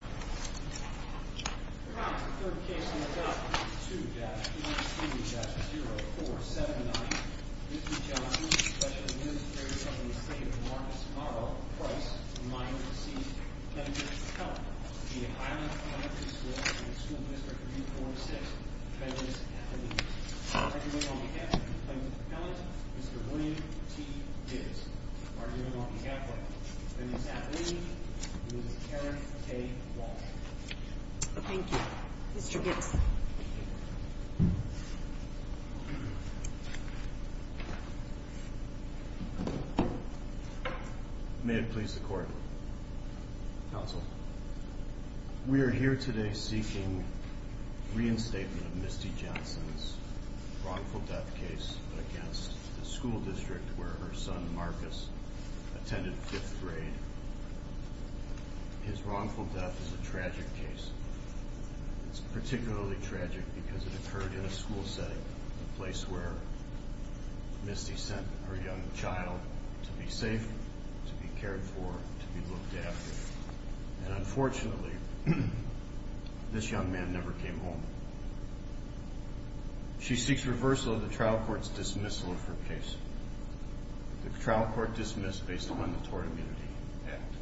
2-E-C-0479 Mr. Johnson, Special Administrator of the State of Newark, Tomorrow, Price, Mines & Seas, Plenty of Help. The Highland Elementary School and the School District of U-46, Feminist Athlete. Arguing on behalf of the plaintiff's appellant, Mr. William T. Gibbs. Arguing on behalf of the feminist athlete, Ms. Karen A. Wall. Thank you. Mr. Gibbs. May it please the Court. Counsel. We are here today seeking reinstatement of Misty Johnson's wrongful death case against the school district where her son, Marcus, attended fifth grade. His wrongful death is a tragic case. It's particularly tragic because it occurred in a school setting, a place where Misty sent her young child to be safe, to be cared for, to be looked after. And unfortunately, this young man never came home. She seeks reversal of the trial court's dismissal of her case. The trial court dismissed based on the Tort Immunity Act.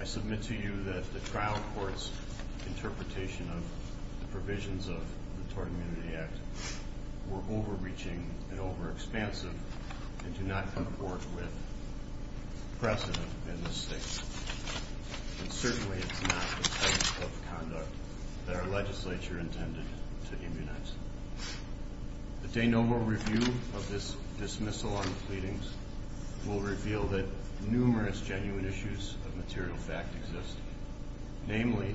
I submit to you that the trial court's interpretation of the provisions of the Tort Immunity Act were overreaching and overexpansive and do not comport with precedent in this state. And certainly it's not the type of conduct that our legislature intended to immunize. The de novo review of this dismissal on the pleadings will reveal that numerous genuine issues of material fact exist. Namely,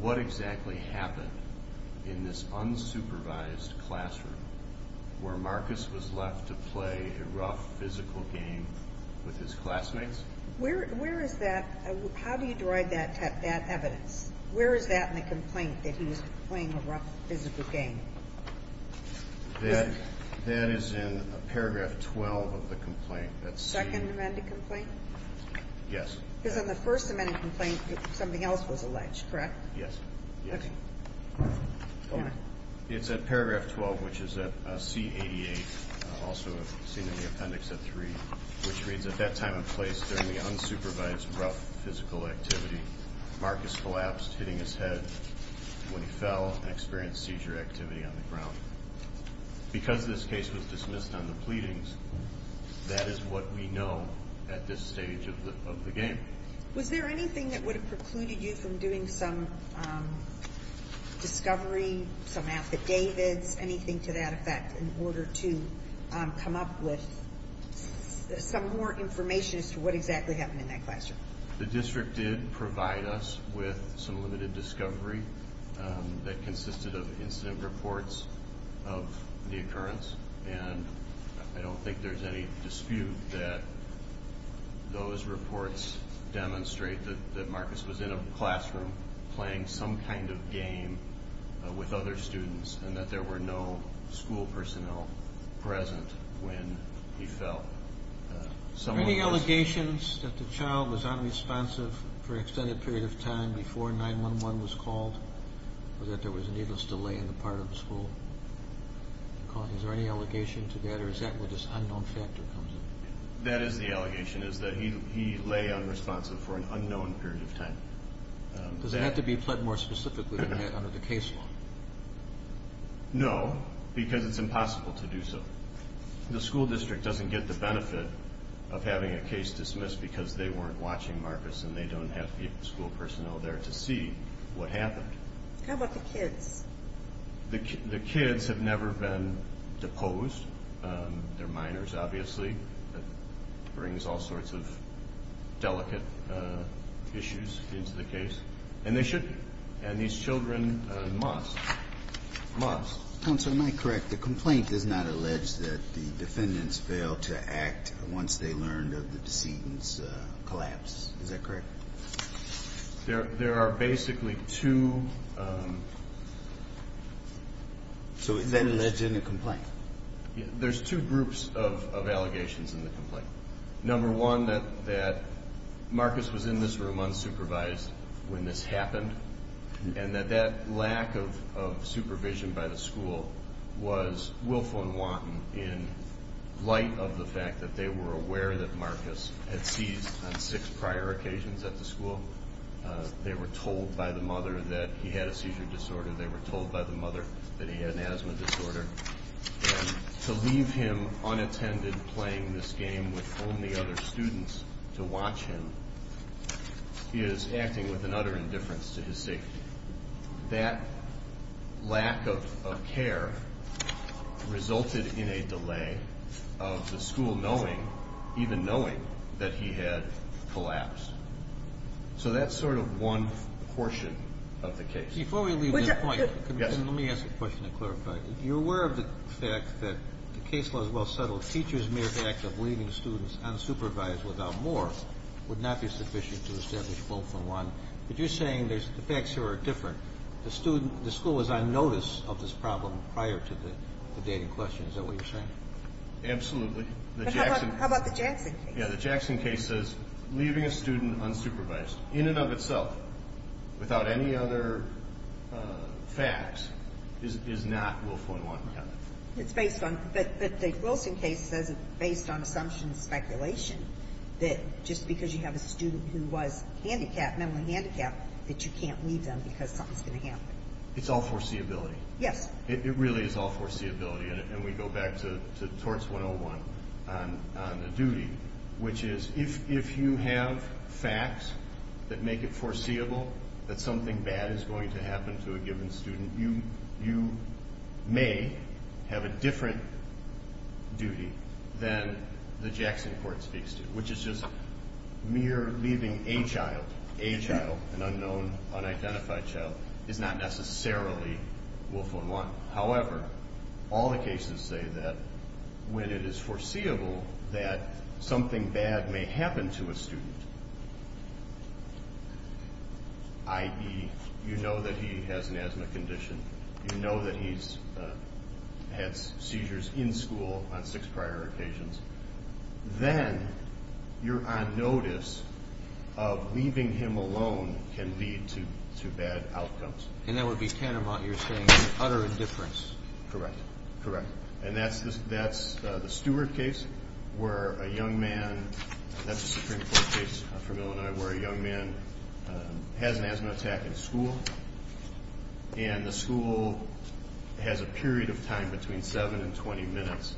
what exactly happened in this unsupervised classroom where Marcus was left to play a rough physical game with his classmates? Where is that? How do you derive that evidence? Where is that in the complaint that he was playing a rough physical game? That is in paragraph 12 of the complaint. The second amended complaint? Yes. Because on the first amended complaint, something else was alleged, correct? Yes. Okay. Go ahead. It's at paragraph 12, which is at C-88, also seen in the appendix at 3, which reads, At that time and place during the unsupervised rough physical activity, Marcus collapsed, hitting his head when he fell and experienced seizure activity on the ground. Because this case was dismissed on the pleadings, that is what we know at this stage of the game. Was there anything that would have precluded you from doing some discovery, some affidavits, anything to that effect, in order to come up with some more information as to what exactly happened in that classroom? The district did provide us with some limited discovery that consisted of incident reports of the occurrence. And I don't think there's any dispute that those reports demonstrate that Marcus was in a classroom playing some kind of game with other students and that there were no school personnel present when he fell. Are there any allegations that the child was unresponsive for an extended period of time before 911 was called or that there was a needless delay in the part of the school? Is there any allegation to that or is that where this unknown factor comes in? That is the allegation, is that he lay unresponsive for an unknown period of time. Does it have to be pled more specifically than that under the case law? No, because it's impossible to do so. The school district doesn't get the benefit of having a case dismissed because they weren't watching Marcus and they don't have the school personnel there to see what happened. How about the kids? The kids have never been deposed. They're minors, obviously. That brings all sorts of delicate issues into the case. And they should be. And these children must. Must. Counsel, am I correct? The complaint does not allege that the defendants failed to act once they learned of the decedent's collapse. Is that correct? There are basically two. So then it's in the complaint. There's two groups of allegations in the complaint. Number one, that Marcus was in this room unsupervised when this happened. And that that lack of supervision by the school was willful and wanton in light of the fact that they were aware that Marcus had seized on six prior occasions at the school. They were told by the mother that he had a seizure disorder. They were told by the mother that he had an asthma disorder. And to leave him unattended playing this game with only other students to watch him is acting with an utter indifference to his safety. That lack of care resulted in a delay of the school knowing, even knowing, that he had collapsed. So that's sort of one portion of the case. Before we leave this point, let me ask a question to clarify. You're aware of the fact that the case was well settled. Teachers' mere act of leaving students unsupervised without more would not be sufficient to establish willful and wanton. But you're saying the facts here are different. The school was on notice of this problem prior to the dating question. Is that what you're saying? Absolutely. But how about the Jackson case? Yeah, the Jackson case says leaving a student unsupervised, in and of itself, without any other facts, is not willful and wanton. Yeah. But the Wilson case says, based on assumptions and speculation, that just because you have a student who was handicapped, mentally handicapped, that you can't leave them because something's going to happen. It's all foreseeability. Yes. It really is all foreseeability, and we go back to torts 101 on the duty, which is if you have facts that make it foreseeable that something bad is going to happen to a given student, you may have a different duty than the Jackson court speaks to, which is just mere leaving a child, an unknown, unidentified child, is not necessarily willful and wanton. However, all the cases say that when it is foreseeable that something bad may happen to a student, i.e., you know that he has an asthma condition, you know that he's had seizures in school on six prior occasions, then you're on notice of leaving him alone can lead to bad outcomes. And that would be tantamount, you're saying, to utter indifference. Correct. Correct. And that's the Stewart case where a young man, that's a Supreme Court case from Illinois, where a young man has an asthma attack in school, and the school has a period of time between seven and 20 minutes.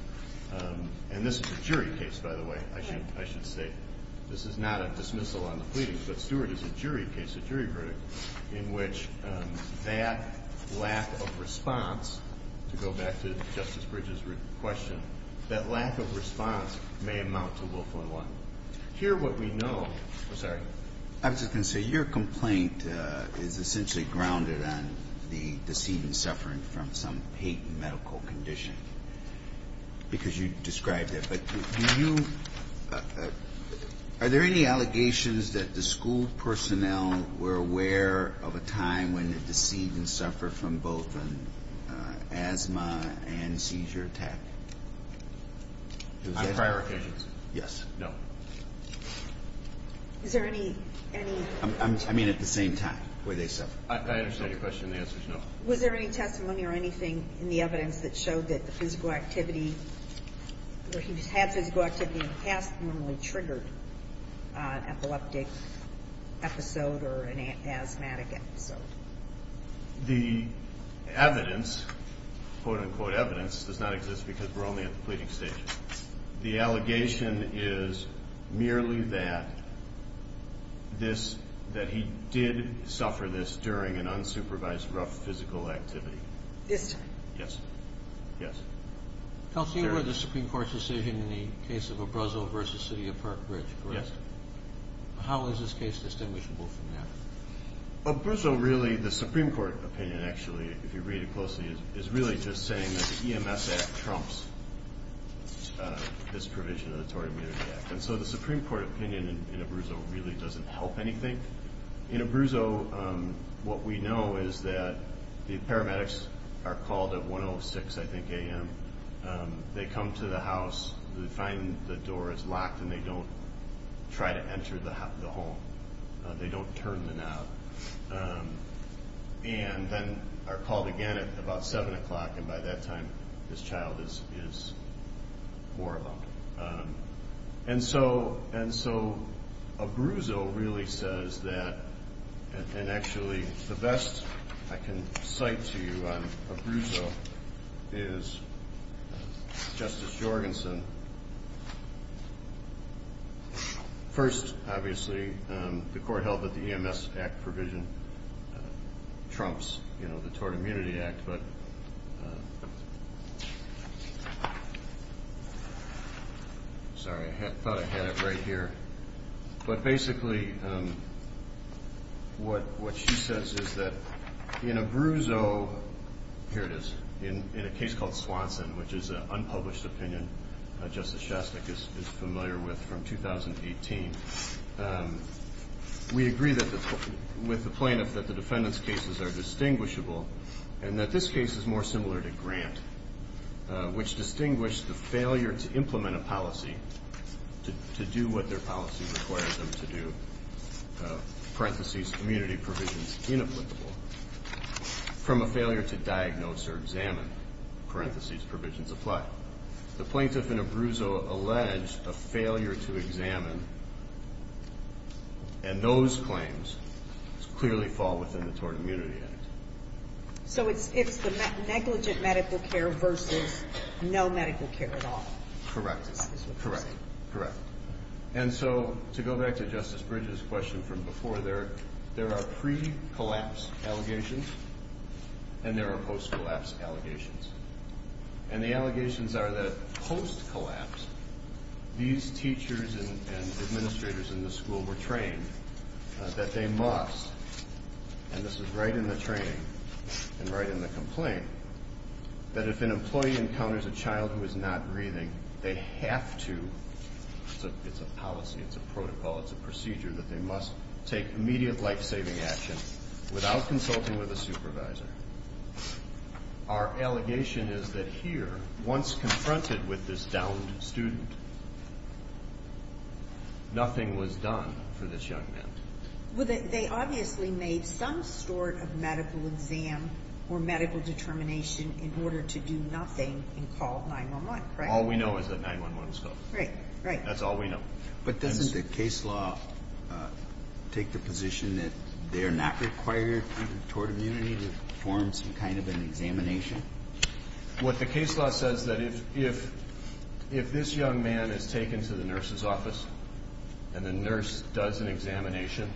And this is a jury case, by the way, I should say. This is not a dismissal on the pleading, but Stewart is a jury case, a jury verdict, in which that lack of response, to go back to Justice Bridges' question, that lack of response may amount to willful and wanton. Here what we know, I'm sorry. I was just going to say, your complaint is essentially grounded on the decedent suffering from some patent medical condition, because you described it. But do you – are there any allegations that the school personnel were aware of a time when the decedent suffered from both an asthma and seizure attack? On prior occasions? Yes. No. Is there any – I mean at the same time, where they suffered. I understand your question. The answer is no. Was there any testimony or anything in the evidence that showed that the physical activity, or he had physical activity in the past, normally triggered an epileptic episode or an asthmatic episode? The evidence, quote-unquote evidence, does not exist because we're only at the pleading stage. The allegation is merely that this – that he did suffer this during an unsupervised rough physical activity. Yes, sir. Yes. Yes. Counsel, you heard the Supreme Court's decision in the case of Abruzzo versus City of Park Ridge, correct? Yes. How is this case distinguishable from that? Abruzzo really – the Supreme Court opinion, actually, if you read it closely, is really just saying that the EMS Act trumps this provision of the Tory Immunity Act. And so the Supreme Court opinion in Abruzzo really doesn't help anything. In Abruzzo, what we know is that the paramedics are called at 1.06, I think, a.m. They come to the house, they find the door is locked, and they don't try to enter the home. They don't turn the knob. And then are called again at about 7 o'clock, and by that time, this child is four of them. And so Abruzzo really says that – and actually, the best I can cite to you on Abruzzo is Justice Jorgensen. First, obviously, the court held that the EMS Act provision trumps the Tory Immunity Act. Sorry, I thought I had it right here. But basically, what she says is that in Abruzzo – here it is – in a case called Swanson, which is an unpublished opinion Justice Shostak is familiar with from 2018, we agree with the plaintiff that the defendant's cases are distinguishable and that this case is more similar to Grant, which distinguished the failure to implement a policy, to do what their policy requires them to do, parentheses, community provisions inapplicable, from a failure to diagnose or examine, parentheses, provisions apply. The plaintiff in Abruzzo alleged a failure to examine, and those claims clearly fall within the Tory Immunity Act. So it's the negligent medical care versus no medical care at all. Correct. Correct. Correct. And so to go back to Justice Bridges' question from before, there are pre-collapse allegations and there are post-collapse allegations. And the allegations are that post-collapse, these teachers and administrators in the school were trained that they must – and this is right in the training and right in the complaint – that if an employee encounters a child who is not breathing, they have to – it's a policy, it's a protocol, it's a procedure – that they must take immediate life-saving action without consulting with a supervisor. Our allegation is that here, once confronted with this downed student, nothing was done for this young man. Well, they obviously made some sort of medical exam or medical determination in order to do nothing and call 9-1-1, right? All we know is that 9-1-1 was called. Right. Right. That's all we know. But doesn't the case law take the position that they're not required, Tory Immunity, to perform some kind of an examination? What the case law says is that if this young man is taken to the nurse's office and the nurse does an examination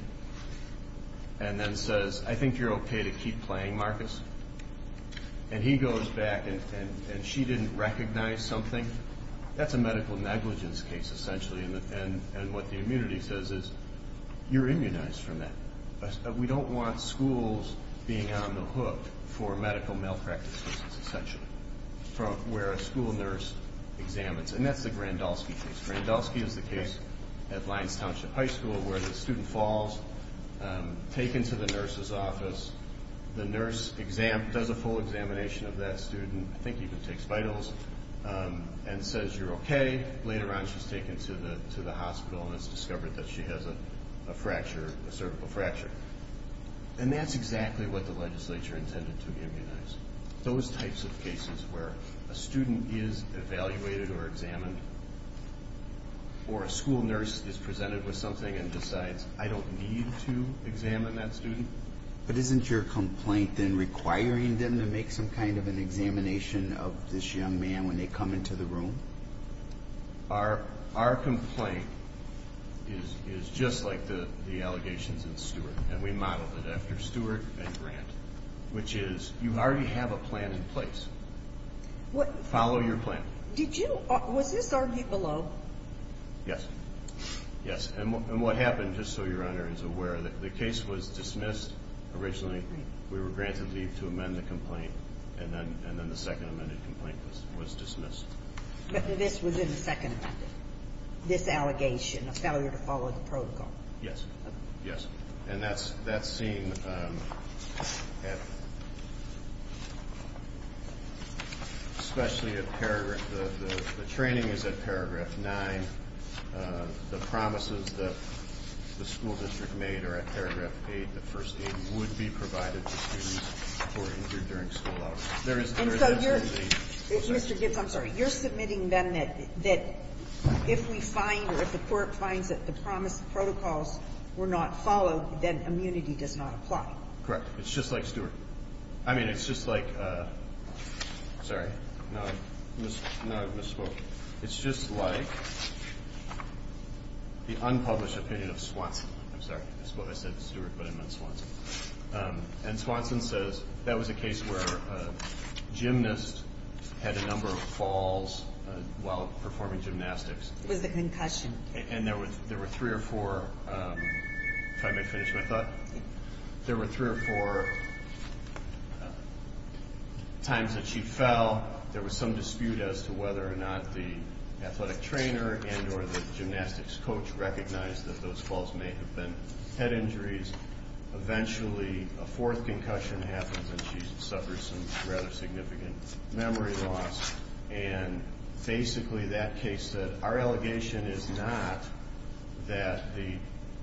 and then says, I think you're okay to keep playing, Marcus, and he goes back and she didn't recognize something, that's a medical negligence case, essentially. And what the immunity says is, you're immunized from that. We don't want schools being on the hook for medical malpractice cases, essentially, from where a school nurse examines. And that's the Grandolski case. Grandolski is the case at Lyons Township High School where the student falls, taken to the nurse's office, the nurse does a full examination of that student, I think even takes vitals, and says you're okay. Later on she's taken to the hospital and it's discovered that she has a fracture, a cervical fracture. And that's exactly what the legislature intended to immunize. Those types of cases where a student is evaluated or examined or a school nurse is presented with something and decides I don't need to examine that student. But isn't your complaint then requiring them to make some kind of an examination of this young man when they come into the room? Our complaint is just like the allegations in Stewart. And we modeled it after Stewart and Grant, which is you already have a plan in place. Follow your plan. Was this argued below? Yes. Yes, and what happened, just so Your Honor is aware, the case was dismissed originally. We were granted leave to amend the complaint, and then the second amended complaint was dismissed. But this was in the second amendment, this allegation, a failure to follow the protocol. Yes, yes. And that's seen especially at paragraph the training is at paragraph 9. The promises that the school district made are at paragraph 8, the first aid would be provided to students who are injured during school hours. Mr. Gibbs, I'm sorry. You're submitting then that if we find or if the court finds that the promised protocols were not followed, then immunity does not apply. Correct. It's just like Stewart. I mean, it's just like, sorry, now I've misspoke. It's just like the unpublished opinion of Swanson. I'm sorry. I said Stewart, but I meant Swanson. And Swanson says that was a case where a gymnast had a number of falls while performing gymnastics. It was a concussion. And there were three or four, if I may finish my thought, there were three or four times that she fell. There was some dispute as to whether or not the athletic trainer and or the gymnastics coach recognized that those falls may have been head injuries. Eventually, a fourth concussion happens and she suffers some rather significant memory loss. And basically that case said our allegation is not that the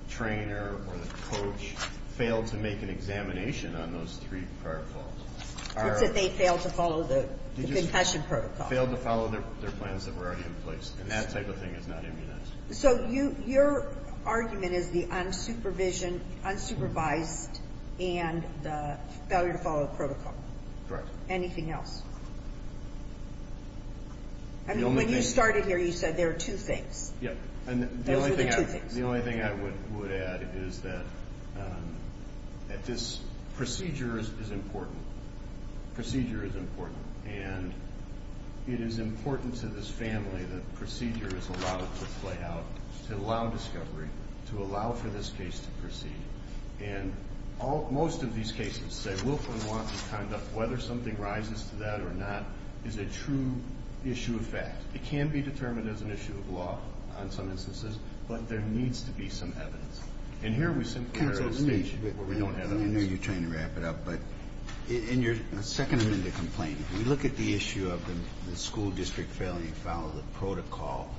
trainer or the coach failed to make an examination on those three prior falls. It's that they failed to follow the concussion protocol. Failed to follow their plans that were already in place. And that type of thing is not immunized. So your argument is the unsupervision, unsupervised, and the failure to follow protocol. Correct. Anything else? I mean, when you started here, you said there are two things. Yep. Those are the two things. The only thing I would add is that this procedure is important. Procedure is important. And it is important to this family that procedure is allowed to play out, to allow discovery, to allow for this case to proceed. And most of these cases say Wilkman wants to conduct whether something rises to that or not is a true issue of fact. It can be determined as an issue of law on some instances, but there needs to be some evidence. And here we simply are at a stage where we don't have evidence. I know you're trying to wrap it up, but in your second amendment complaint, if we look at the issue of the school district failing to follow the protocol,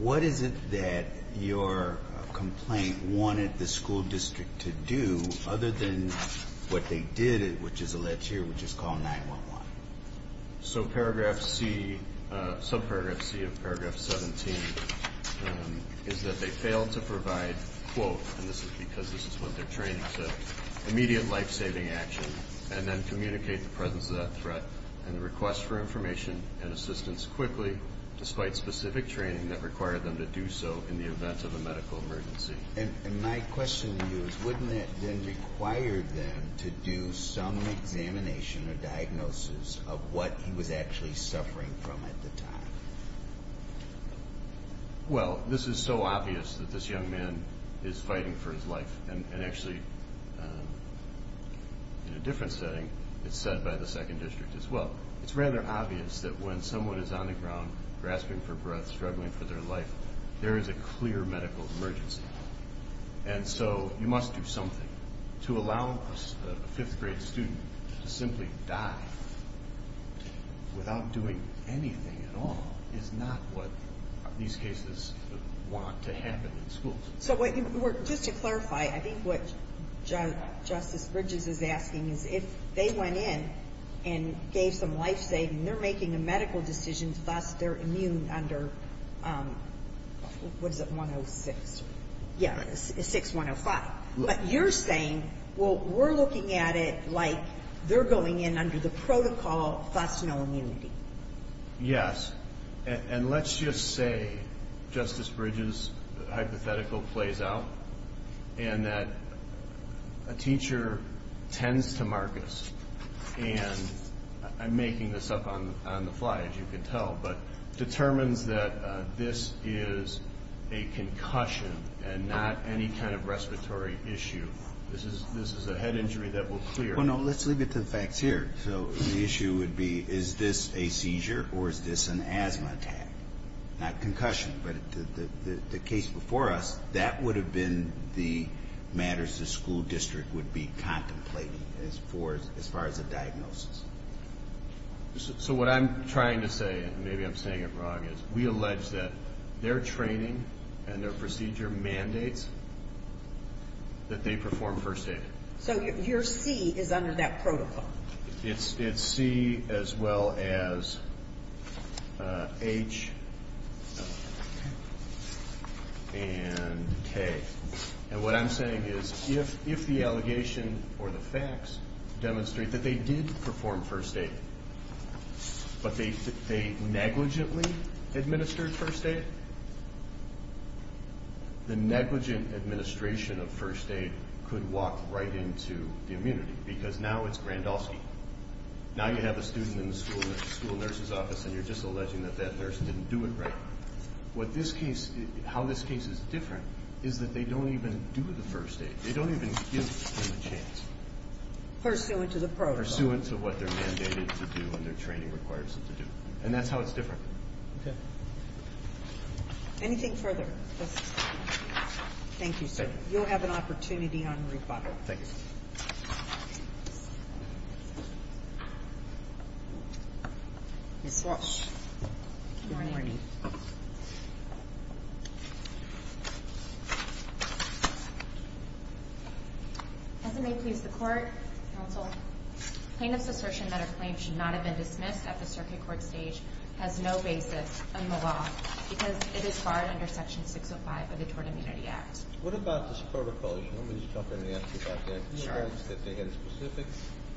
what is it that your complaint wanted the school district to do other than what they did, which is alleged here, which is called 9-1-1? So paragraph C, subparagraph C of paragraph 17, is that they failed to provide, quote, and this is because this is what their training said, immediate life-saving action, and then communicate the presence of that threat and request for information and assistance quickly, despite specific training that required them to do so in the event of a medical emergency. And my question to you is wouldn't that then require them to do some examination or diagnosis of what he was actually suffering from at the time? Well, this is so obvious that this young man is fighting for his life, and actually in a different setting it's said by the second district as well. It's rather obvious that when someone is on the ground grasping for breath, struggling for their life, there is a clear medical emergency. And so you must do something to allow a fifth-grade student to simply die without doing anything at all is not what these cases want to happen in schools. So just to clarify, I think what Justice Bridges is asking is if they went in and gave some life-saving, they're making a medical decision, thus they're immune under, what is it, 106? Yeah, 6105. But you're saying, well, we're looking at it like they're going in under the protocol, thus no immunity. Yes, and let's just say, Justice Bridges' hypothetical plays out, and that a teacher tends to Marcus, and I'm making this up on the fly, as you can tell, but determines that this is a concussion and not any kind of respiratory issue. This is a head injury that will clear. Well, no, let's leave it to the facts here. So the issue would be, is this a seizure or is this an asthma attack? Not concussion, but the case before us, that would have been the matters the school district would be contemplating as far as a diagnosis. So what I'm trying to say, and maybe I'm saying it wrong, is we allege that their training and their procedure mandates that they perform first aid. So your C is under that protocol. It's C as well as H and K. And what I'm saying is, if the allegation or the facts demonstrate that they did perform first aid, but they negligently administered first aid, the negligent administration of first aid could walk right into the immunity because now it's Grandolski. Now you have a student in the school nurse's office and you're just alleging that that nurse didn't do it right. How this case is different is that they don't even do the first aid. They don't even give them a chance. Pursuant to the protocol. Pursuant to what they're mandated to do and their training requires them to do. And that's how it's different. Okay. Anything further? Thank you, sir. You'll have an opportunity on rebuttal. Thank you. Ms. Walsh. Good morning. As it may please the Court, counsel, plaintiff's assertion that a claim should not have been dismissed at the circuit court stage has no basis in the law because it is barred under Section 605 of the Tort Immunity Act. What about this protocol? Let me just jump in and ask you about that. You allege that they had a specific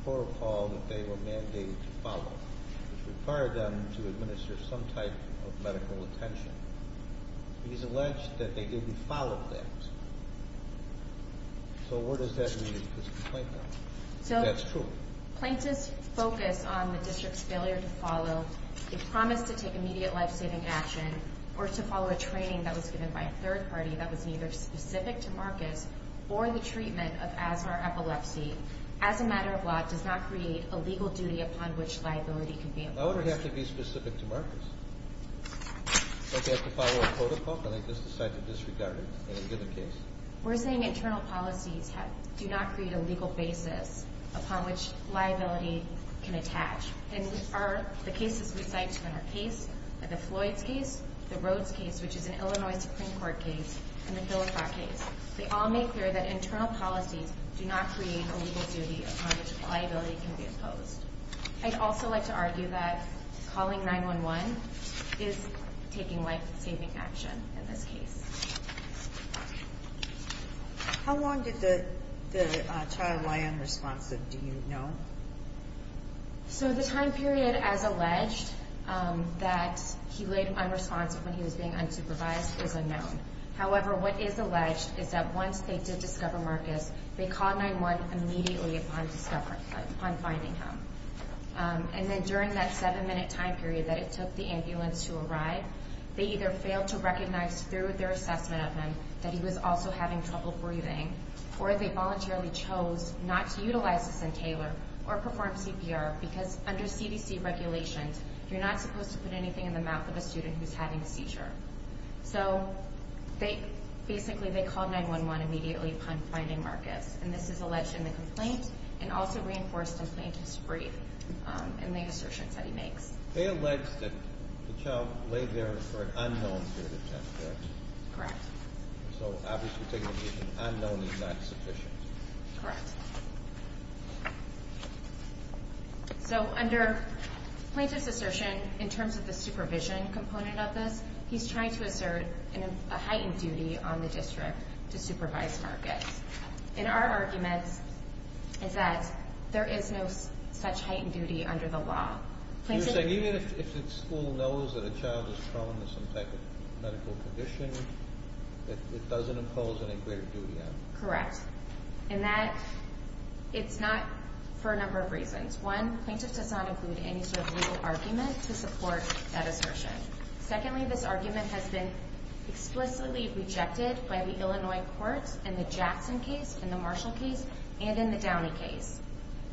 protocol that they were mandated to follow which required them to administer some type of medical attention. He's alleged that they didn't follow that. So where does that leave this complaint then? That's true. So plaintiff's focus on the district's failure to follow the promise to take immediate life-saving action or to follow a training that was given by a third party that was neither specific to Marcus or the treatment of asthma or epilepsy as a matter of law does not create a legal duty upon which liability can be imposed. Why would it have to be specific to Marcus? Don't they have to follow a protocol? Don't they just decide to disregard it in a given case? We're saying internal policies do not create a legal basis upon which liability can attach. And the cases we cite in our case, the Floyds case, the Rhodes case, which is an Illinois Supreme Court case, and the Hillefra case, they all make clear that internal policies do not create a legal duty upon which liability can be imposed. I'd also like to argue that calling 911 is taking life-saving action in this case. How long did the child lie unresponsive, do you know? So the time period as alleged that he laid unresponsive when he was being unsupervised is unknown. However, what is alleged is that once they did discover Marcus, they called 911 immediately upon finding him. And then during that seven-minute time period that it took the ambulance to arrive, they either failed to recognize through their assessment of him that he was also having trouble breathing or they voluntarily chose not to utilize this entailer or perform CPR because under CDC regulations you're not supposed to put anything in the mouth of a student who's having a seizure. So basically they called 911 immediately upon finding Marcus. And this is alleged in the complaint and also reinforced in plaintiff's brief and the assertions that he makes. They allege that the child laid there for an unknown period of time, correct? Correct. So obviously taking a reason unknown is not sufficient. Correct. So under plaintiff's assertion, in terms of the supervision component of this, he's trying to assert a heightened duty on the district to supervise Marcus. And our argument is that there is no such heightened duty under the law. You're saying even if the school knows that a child is prone to some type of medical condition, it doesn't impose any greater duty on them? Correct. And that it's not for a number of reasons. One, plaintiff does not include any sort of legal argument to support that assertion. Secondly, this argument has been explicitly rejected by the Illinois courts in the Jackson case, in the Marshall case, and in the Downey case.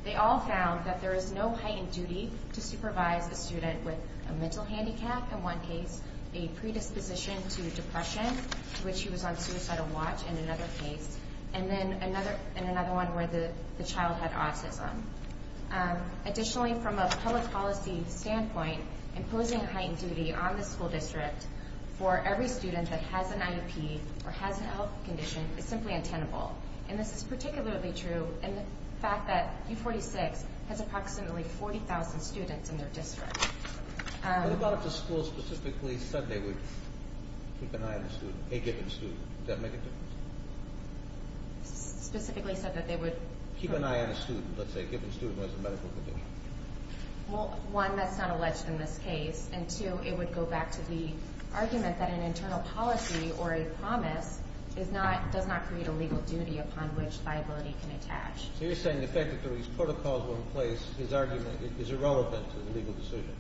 They all found that there is no heightened duty to supervise a student with a mental handicap in one case, a predisposition to depression, to which he was on suicidal watch in another case, and another one where the child had autism. Additionally, from a public policy standpoint, imposing a heightened duty on the school district for every student that has an IEP or has a health condition is simply untenable. And this is particularly true in the fact that U46 has approximately 40,000 students in their district. What about if the school specifically said they would keep an eye on a student, a given student? Would that make a difference? Specifically said that they would... Keep an eye on a student, let's say, a given student who has a medical condition. Well, one, that's not alleged in this case. And two, it would go back to the argument that an internal policy or a promise does not create a legal duty upon which liability can attach. So you're saying the fact that these protocols were in place, his argument is irrelevant to the legal decision?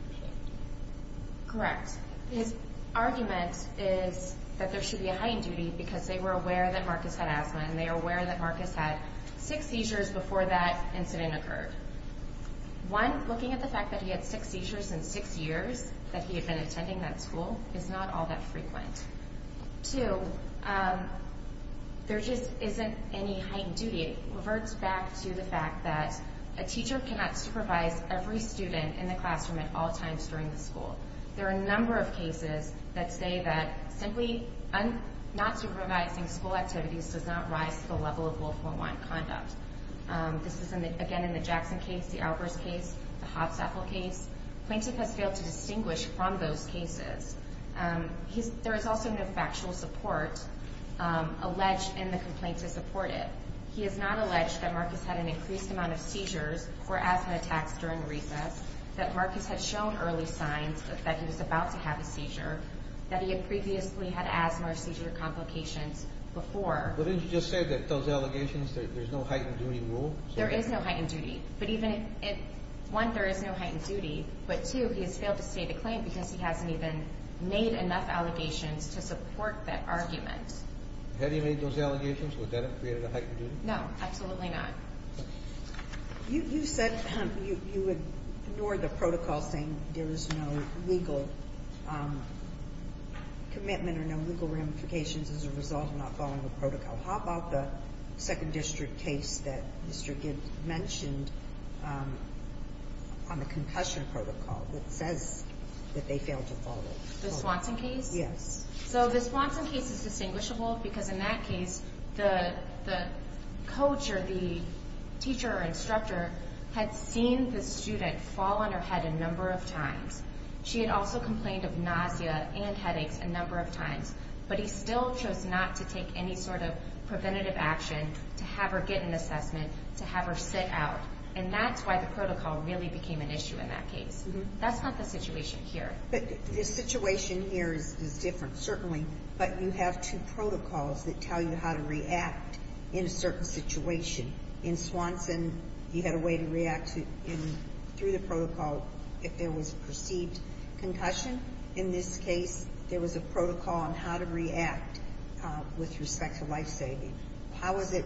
Correct. His argument is that there should be a heightened duty because they were aware that Marcus had asthma and they were aware that Marcus had six seizures before that incident occurred. One, looking at the fact that he had six seizures in six years that he had been attending that school is not all that frequent. Two, there just isn't any heightened duty. It reverts back to the fact that a teacher cannot supervise every student in the classroom at all times during the school. There are a number of cases that say that simply not supervising school activities does not rise to the level of Willful Unwanted Conduct. This is, again, in the Jackson case, the Albers case, the Hopstaffel case. Plaintiff has failed to distinguish from those cases. There is also no factual support alleged in the complaint to support it. He has not alleged that Marcus had an increased amount of seizures or asthma attacks during recess, that Marcus had shown early signs that he was about to have a seizure, that he had previously had asthma or seizure complications before. But didn't you just say that those allegations, there's no heightened duty rule? There is no heightened duty. But even if, one, there is no heightened duty, but two, he has failed to state a claim because he hasn't even made enough allegations to support that argument. Had he made those allegations, would that have created a heightened duty? No, absolutely not. You said you would ignore the protocol saying there is no legal commitment or no legal ramifications as a result of not following the protocol. How about the Second District case that Mr. Gibbs mentioned on the concussion protocol that says that they failed to follow? The Swanson case? Yes. So the Swanson case is distinguishable because in that case, the coach or the teacher or instructor had seen the student fall on her head a number of times. She had also complained of nausea and headaches a number of times. But he still chose not to take any sort of preventative action to have her get an assessment, to have her sit out. And that's why the protocol really became an issue in that case. That's not the situation here. But the situation here is different, certainly. But you have two protocols that tell you how to react in a certain situation. In Swanson, you had a way to react through the protocol if there was a perceived concussion. In this case, there was a protocol on how to react with respect to lifesaving. How is it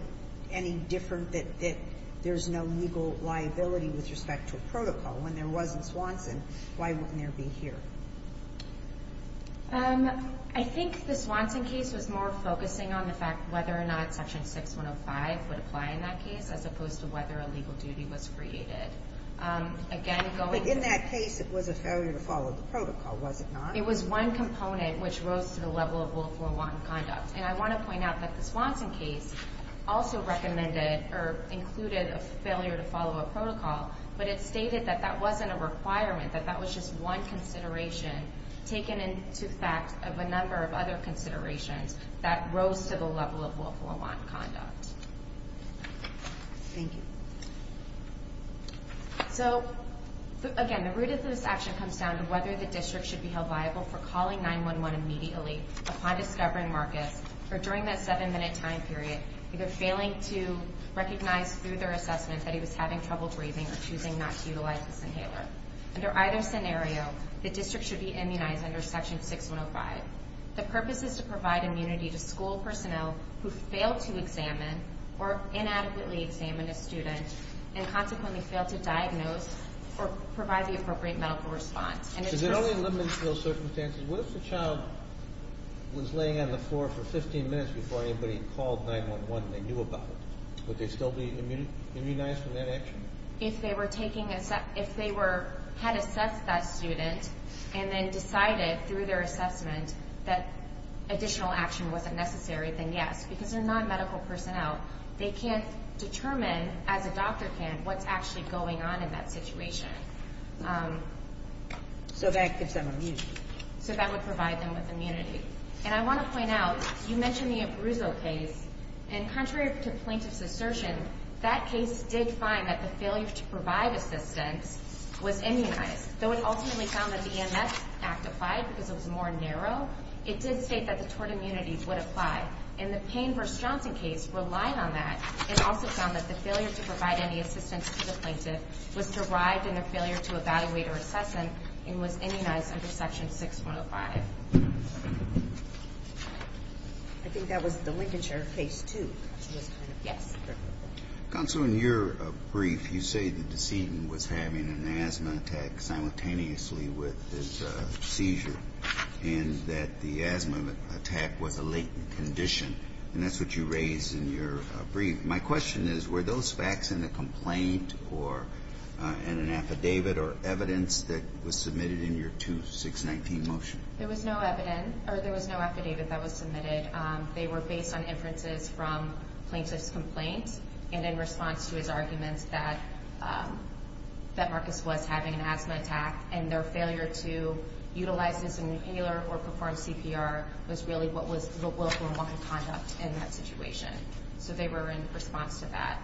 any different that there's no legal liability with respect to a protocol? When there wasn't Swanson, why wouldn't there be here? I think the Swanson case was more focusing on the fact whether or not Section 6105 would apply in that case as opposed to whether a legal duty was created. But in that case, it was a failure to follow the protocol, was it not? It was one component which rose to the level of willful or wanton conduct. And I want to point out that the Swanson case also recommended or included a failure to follow a protocol, but it stated that that wasn't a requirement, that that was just one consideration taken into fact of a number of other considerations that rose to the level of willful or wanton conduct. Thank you. So, again, the root of this action comes down to whether the district should be held liable for calling 911 immediately upon discovering Marcus, or during that seven-minute time period, either failing to recognize through their assessment that he was having trouble breathing or choosing not to utilize this inhaler. Under either scenario, the district should be immunized under Section 6105. The purpose is to provide immunity to school personnel who fail to examine or inadequately examine a student and consequently fail to diagnose or provide the appropriate medical response. Is it only limited to those circumstances? What if the child was laying on the floor for 15 minutes before anybody called 911 and they knew about it? Would they still be immunized from that action? If they had assessed that student and then decided through their assessment that additional action wasn't necessary, then yes. Because they're not medical personnel. They can't determine as a doctor can what's actually going on in that situation. So that gives them immunity. So that would provide them with immunity. And I want to point out, you mentioned the Abruzzo case, and contrary to plaintiff's assertion, that case did find that the failure to provide assistance was immunized. Though it ultimately found that the EMS act applied because it was more narrow, it did state that the tort immunities would apply. And the Payne v. Johnson case relied on that and also found that the failure to provide any assistance to the plaintiff was derived in a failure to evaluate or assess him and was immunized under Section 6105. I think that was the linkage or Phase 2. Yes. Counsel, in your brief, you say the decedent was having an asthma attack simultaneously with his seizure and that the asthma attack was a latent condition. And that's what you raise in your brief. My question is, were those facts in the complaint or in an affidavit or evidence that was submitted in your 2-619 motion? There was no evidence, or there was no affidavit that was submitted. They were based on inferences from plaintiff's complaint and in response to his arguments that Marcus was having an asthma attack. And their failure to utilize his inhaler or perform CPR was really what was the willful and wanton conduct in that situation. So they were in response to that.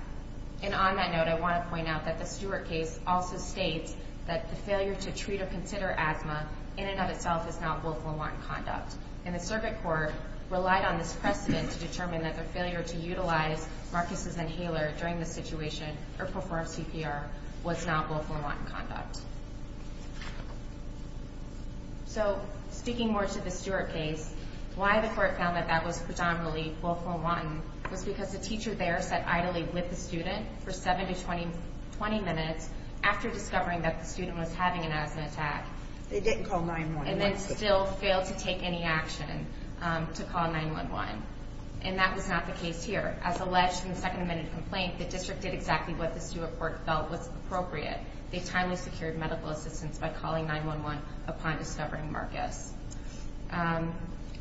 And on that note, I want to point out that the Stewart case also states that the failure to treat or consider asthma in and of itself is not willful and wanton conduct. And the circuit court relied on this precedent to determine that the failure to utilize Marcus' inhaler during the situation or perform CPR was not willful and wanton conduct. So speaking more to the Stewart case, why the court found that that was predominantly willful and wanton was because the teacher there sat idly with the student for 7 to 20 minutes after discovering that the student was having an asthma attack. They didn't call 9-1-1. And then still failed to take any action to call 9-1-1. And that was not the case here. As alleged in the second amended complaint, the district did exactly what the Stewart court felt was appropriate. They timely secured medical assistance by calling 9-1-1 upon discovering Marcus.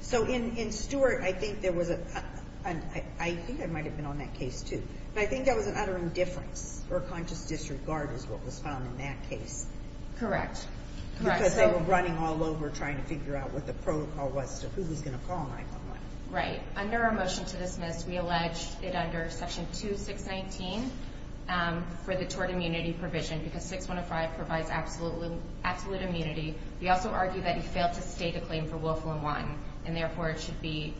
So in Stewart, I think there was a – I think I might have been on that case too. But I think that was an utter indifference or a conscious disregard is what was found in that case. Correct. Because they were running all over trying to figure out what the protocol was to who was going to call 9-1-1. Right. Under our motion to dismiss, we allege it under Section 2619 for the tort immunity provision because 6105 provides absolute immunity. We also argue that he failed to state a claim for willful and wanton, and therefore it should be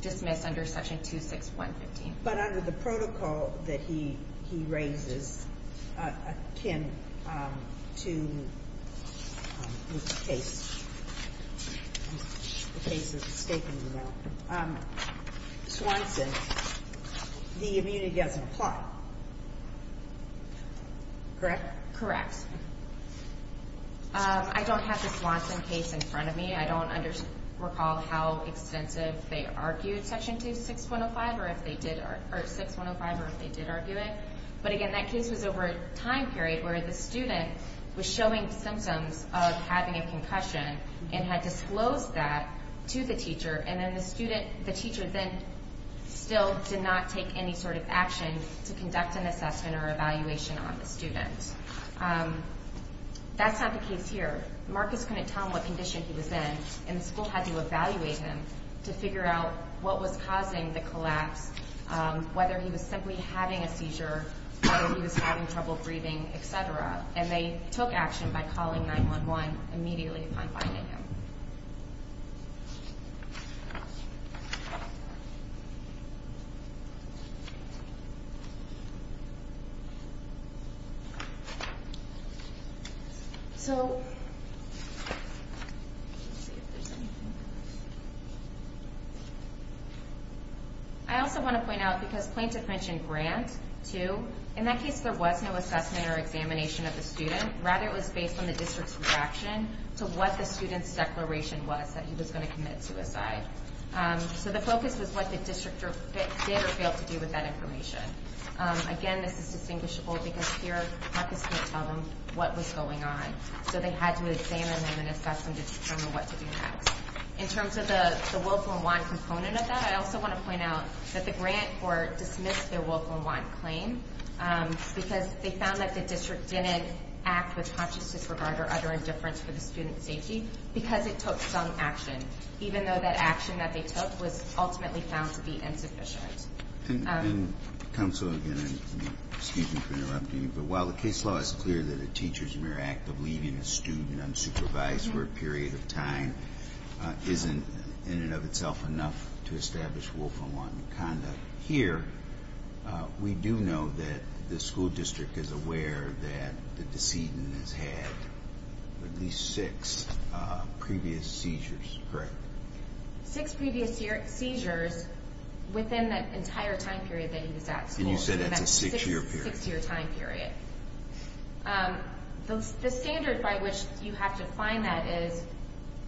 dismissed under Section 26115. But under the protocol that he raises akin to this case, the case of the statement, you know, Swanson, the immunity doesn't apply. Correct? Correct. I don't have the Swanson case in front of me. I don't recall how extensive they argued Section 26105 or if they did argue it. But, again, that case was over a time period where the student was showing symptoms of having a concussion and had disclosed that to the teacher, and then the teacher then still did not take any sort of action to conduct an assessment or evaluation on the student. That's not the case here. Marcus couldn't tell him what condition he was in, and the school had to evaluate him to figure out what was causing the collapse, whether he was simply having a seizure, whether he was having trouble breathing, et cetera. And they took action by calling 9-1-1 immediately upon finding him. So let's see if there's anything else. I also want to point out, because Plaintiff mentioned Grant, too, in that case there was no assessment or examination of the student. Rather, it was based on the district's reaction to what the student's declaration was, that he was going to commit suicide. So the focus was what the district did or failed to do with that information. Again, this is distinguishable because here Marcus couldn't tell them what was going on, so they had to examine him and assess him to determine what to do next. In terms of the Wolf and Wand component of that, I also want to point out that the Grant court dismissed their Wolf and Wand claim because they found that the district didn't act with conscious disregard or other indifference for the student's safety because it took some action, even though that action that they took was ultimately found to be insufficient. And, Counsel, again, excuse me for interrupting you, but while the case law is clear that a teacher's mere act of leaving a student unsupervised for a period of time isn't in and of itself enough to establish Wolf and Wand conduct, here we do know that the school district is aware that the decedent has had at least six previous seizures, correct? Six previous seizures within that entire time period that he was at school. And you said that's a six-year period. Six-year time period. The standard by which you have to find that is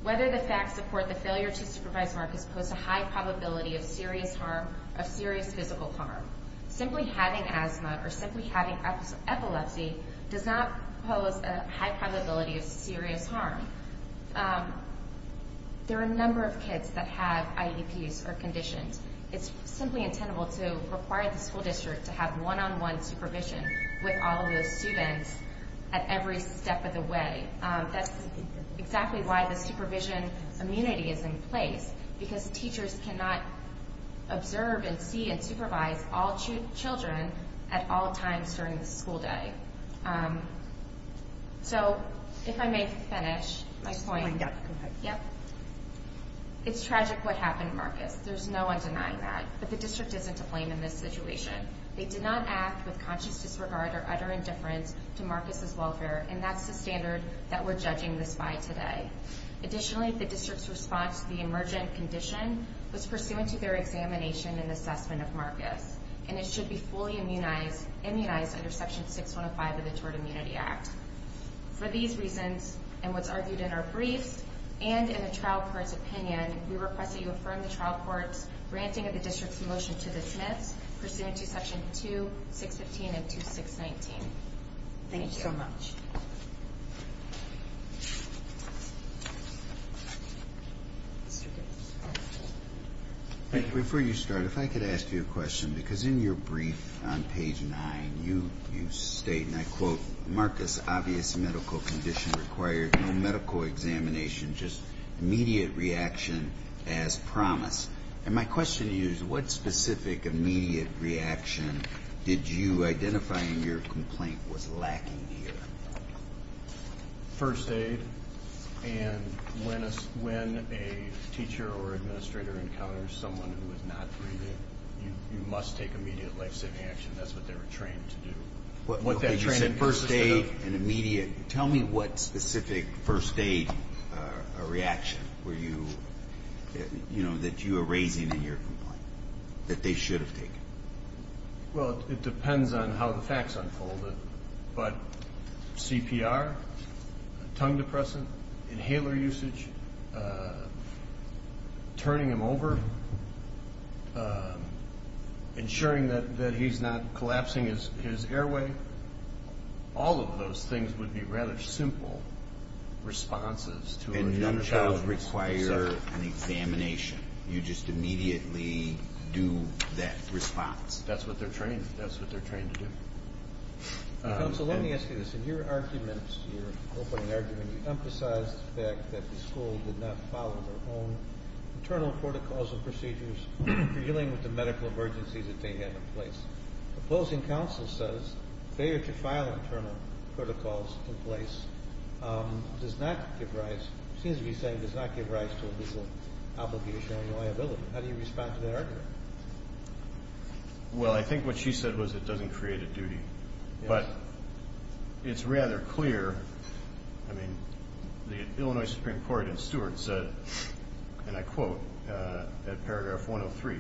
whether the facts support the failure to supervise Marcus pose a high probability of serious harm, of serious physical harm. Simply having asthma or simply having epilepsy does not pose a high probability of serious harm. There are a number of kids that have IEPs or conditions. It's simply intenable to require the school district to have one-on-one supervision with all of those students at every step of the way. That's exactly why the supervision immunity is in place, because teachers cannot observe and see and supervise all children at all times during the school day. So if I may finish my point. Go ahead. It's tragic what happened to Marcus. There's no one denying that. But the district isn't to blame in this situation. And that's the standard that we're judging this by today. Additionally, the district's response to the emergent condition was pursuant to their examination and assessment of Marcus. And it should be fully immunized under Section 6105 of the Tort Immunity Act. For these reasons and what's argued in our briefs and in the trial court's opinion, we request that you affirm the trial court's granting of the district's motion to dismiss pursuant to Section 2, 615, and 2619. Thank you. Thank you so much. Before you start, if I could ask you a question. Because in your brief on page 9, you state, and I quote, Marcus' obvious medical condition required no medical examination, just immediate reaction as promised. And my question to you is what specific immediate reaction did you identify in your complaint was lacking here? First aid. And when a teacher or administrator encounters someone who is not breathing, you must take immediate life-saving action. That's what they were trained to do. You said first aid and immediate. Tell me what specific first aid reaction were you, you know, that you were raising in your complaint that they should have taken? Well, it depends on how the facts unfolded. But CPR, tongue depressant, inhaler usage, turning him over, ensuring that he's not collapsing his airway, all of those things would be rather simple responses to a young child. They don't require an examination. You just immediately do that response. That's what they're trained to do. Counsel, let me ask you this. In your arguments, your opening argument, you emphasized the fact that the school did not follow their own internal protocols and procedures for dealing with the medical emergencies that they had in place. The opposing counsel says failure to file internal protocols in place does not give rise, seems to be saying does not give rise to a legal obligation or liability. How do you respond to that argument? Well, I think what she said was it doesn't create a duty. But it's rather clear, I mean, the Illinois Supreme Court in Stewart said, and I quote at paragraph 103,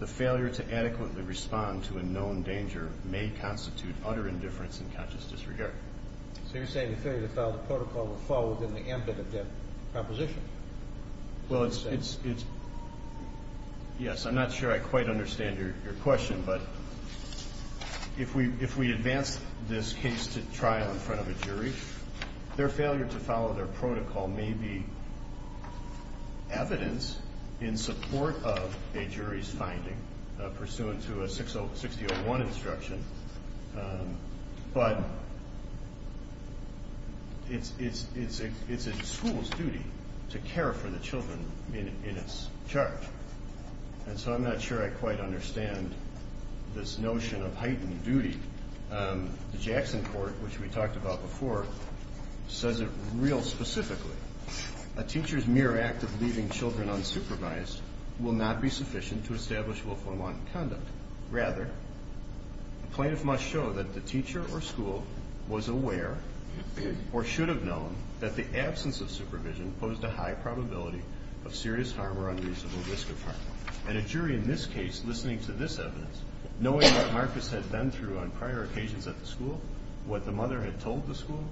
the failure to adequately respond to a known danger may constitute utter indifference and conscious disregard. So you're saying the failure to follow the protocol would fall within the ambit of that proposition? Well, it's, yes, I'm not sure I quite understand your question, but if we advance this case to trial in front of a jury, their failure to follow their protocol may be evidence in support of a jury's finding, pursuant to a 6-0-1 instruction. But it's a school's duty to care for the children in its charge. And so I'm not sure I quite understand this notion of heightened duty. The Jackson Court, which we talked about before, says it real specifically. A teacher's mere act of leaving children unsupervised will not be sufficient to establish willful and want conduct. Rather, a plaintiff must show that the teacher or school was aware or should have known that the absence of supervision posed a high probability of serious harm or unreasonable risk of harm. And a jury in this case, listening to this evidence, knowing what Marcus had been through on prior occasions at the school, what the mother had told the school,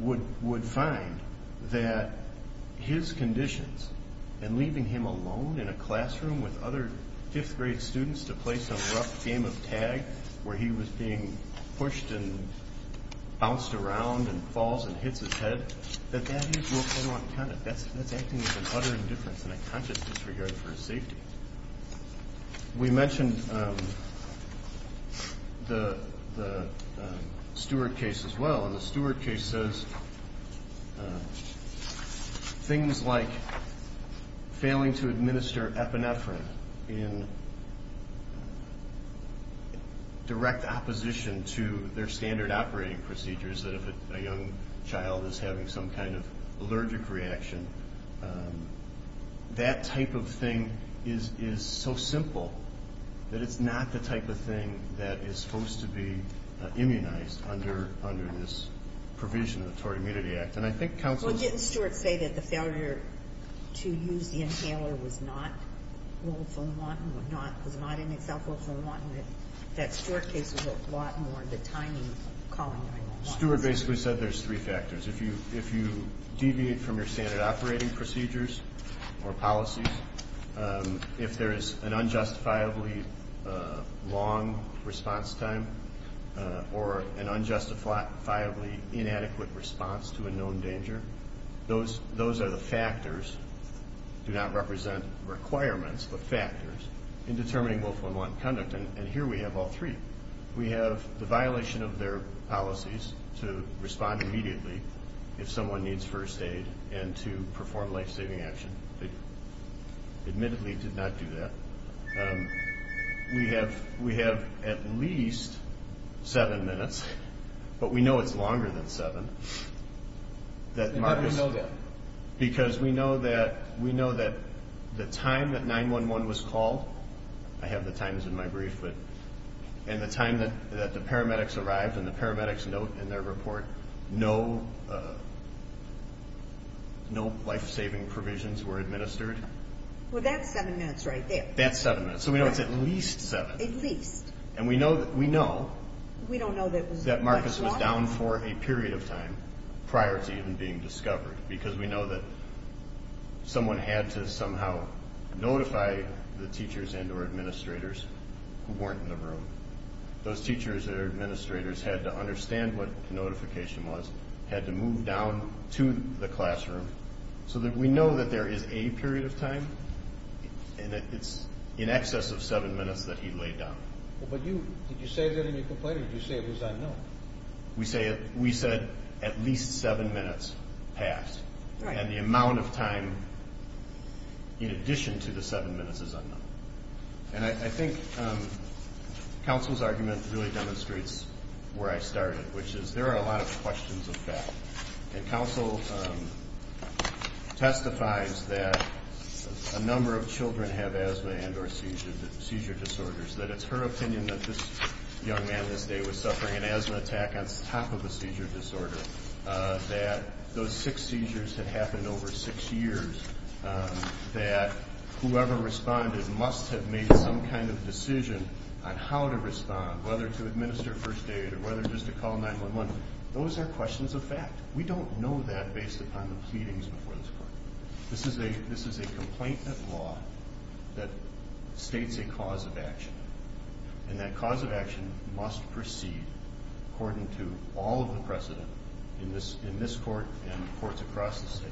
would find that his conditions and leaving him alone in a classroom with other fifth-grade students to play some rough game of tag where he was being pushed and bounced around and falls and hits his head, that that is willful and want conduct. That's acting as an utter indifference and a conscious disregard for his safety. We mentioned the Stewart case as well. And the Stewart case says things like failing to administer epinephrine in direct opposition to their standard operating procedures, that if a young child is having some kind of allergic reaction, that type of thing is so simple that it's not the type of thing that is supposed to be immunized under this provision of the Tort Immunity Act. And I think counsel... Well, didn't Stewart say that the failure to use the inhaler was not willful and want and was not in itself willful and want? And that Stewart case was a lot more the timing calling than willful and want. Stewart basically said there's three factors. If you deviate from your standard operating procedures or policies, if there is an unjustifiably long response time or an unjustifiably inadequate response to a known danger, those are the factors, do not represent requirements, but factors, in determining willful and want conduct. And here we have all three. We have the violation of their policies to respond immediately if someone needs first aid and to perform life-saving action. They admittedly did not do that. We have at least seven minutes, but we know it's longer than seven. How do we know that? Because we know that the time that 911 was called, I have the times in my brief, and the time that the paramedics arrived and the paramedics note in their report no life-saving provisions were administered. Well, that's seven minutes right there. That's seven minutes. So we know it's at least seven. At least. And we know that Marcus was down for a period of time prior to even being discovered because we know that someone had to somehow notify the teachers and or administrators who weren't in the room. Those teachers or administrators had to understand what the notification was, had to move down to the classroom, so that we know that there is a period of time, and it's in excess of seven minutes that he laid down. Did you say that in your complaint, or did you say it was unknown? We said at least seven minutes passed. And the amount of time in addition to the seven minutes is unknown. And I think counsel's argument really demonstrates where I started, which is there are a lot of questions of that. And counsel testifies that a number of children have asthma and or seizure disorders, that it's her opinion that this young man this day was suffering an asthma attack on top of a seizure disorder, that those six seizures had happened over six years, that whoever responded must have made some kind of decision on how to respond, whether to administer first aid or whether just to call 911. Those are questions of fact. We don't know that based upon the pleadings before this court. This is a complaint of law that states a cause of action, and that cause of action must proceed according to all of the precedent in this court and in courts across the state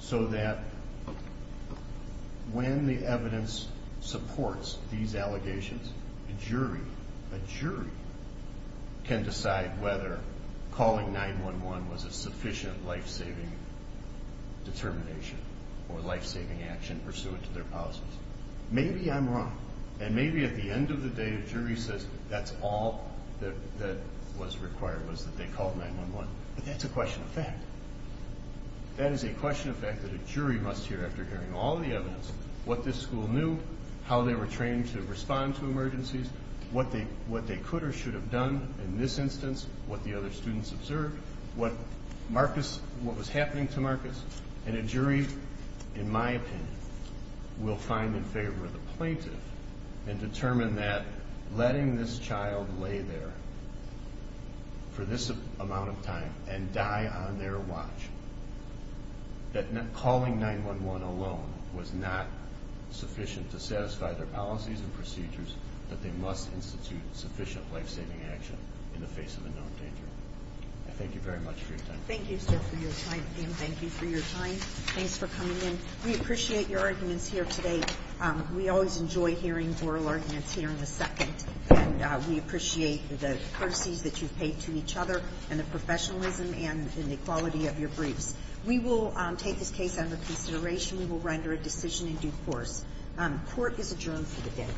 so that when the evidence supports these allegations, a jury can decide whether calling 911 was a sufficient life-saving determination or life-saving action pursuant to their policies. Maybe I'm wrong, and maybe at the end of the day a jury says that's all that was required, was that they called 911, but that's a question of fact. That is a question of fact that a jury must hear after hearing all the evidence, what this school knew, how they were trained to respond to emergencies, what they could or should have done in this instance, what the other students observed, what was happening to Marcus. And a jury, in my opinion, will find in favor of the plaintiff and determine that letting this child lay there for this amount of time and die on their watch, that calling 911 alone was not sufficient to satisfy their policies and procedures, that they must institute sufficient life-saving action in the face of a known danger. I thank you very much for your time. Thank you, sir, for your time, and thank you for your time. Thanks for coming in. We appreciate your arguments here today. We always enjoy hearing oral arguments here in a second, and we appreciate the courtesies that you've paid to each other and the professionalism and the quality of your briefs. We will take this case under consideration. We will render a decision in due course. Court is adjourned for the day.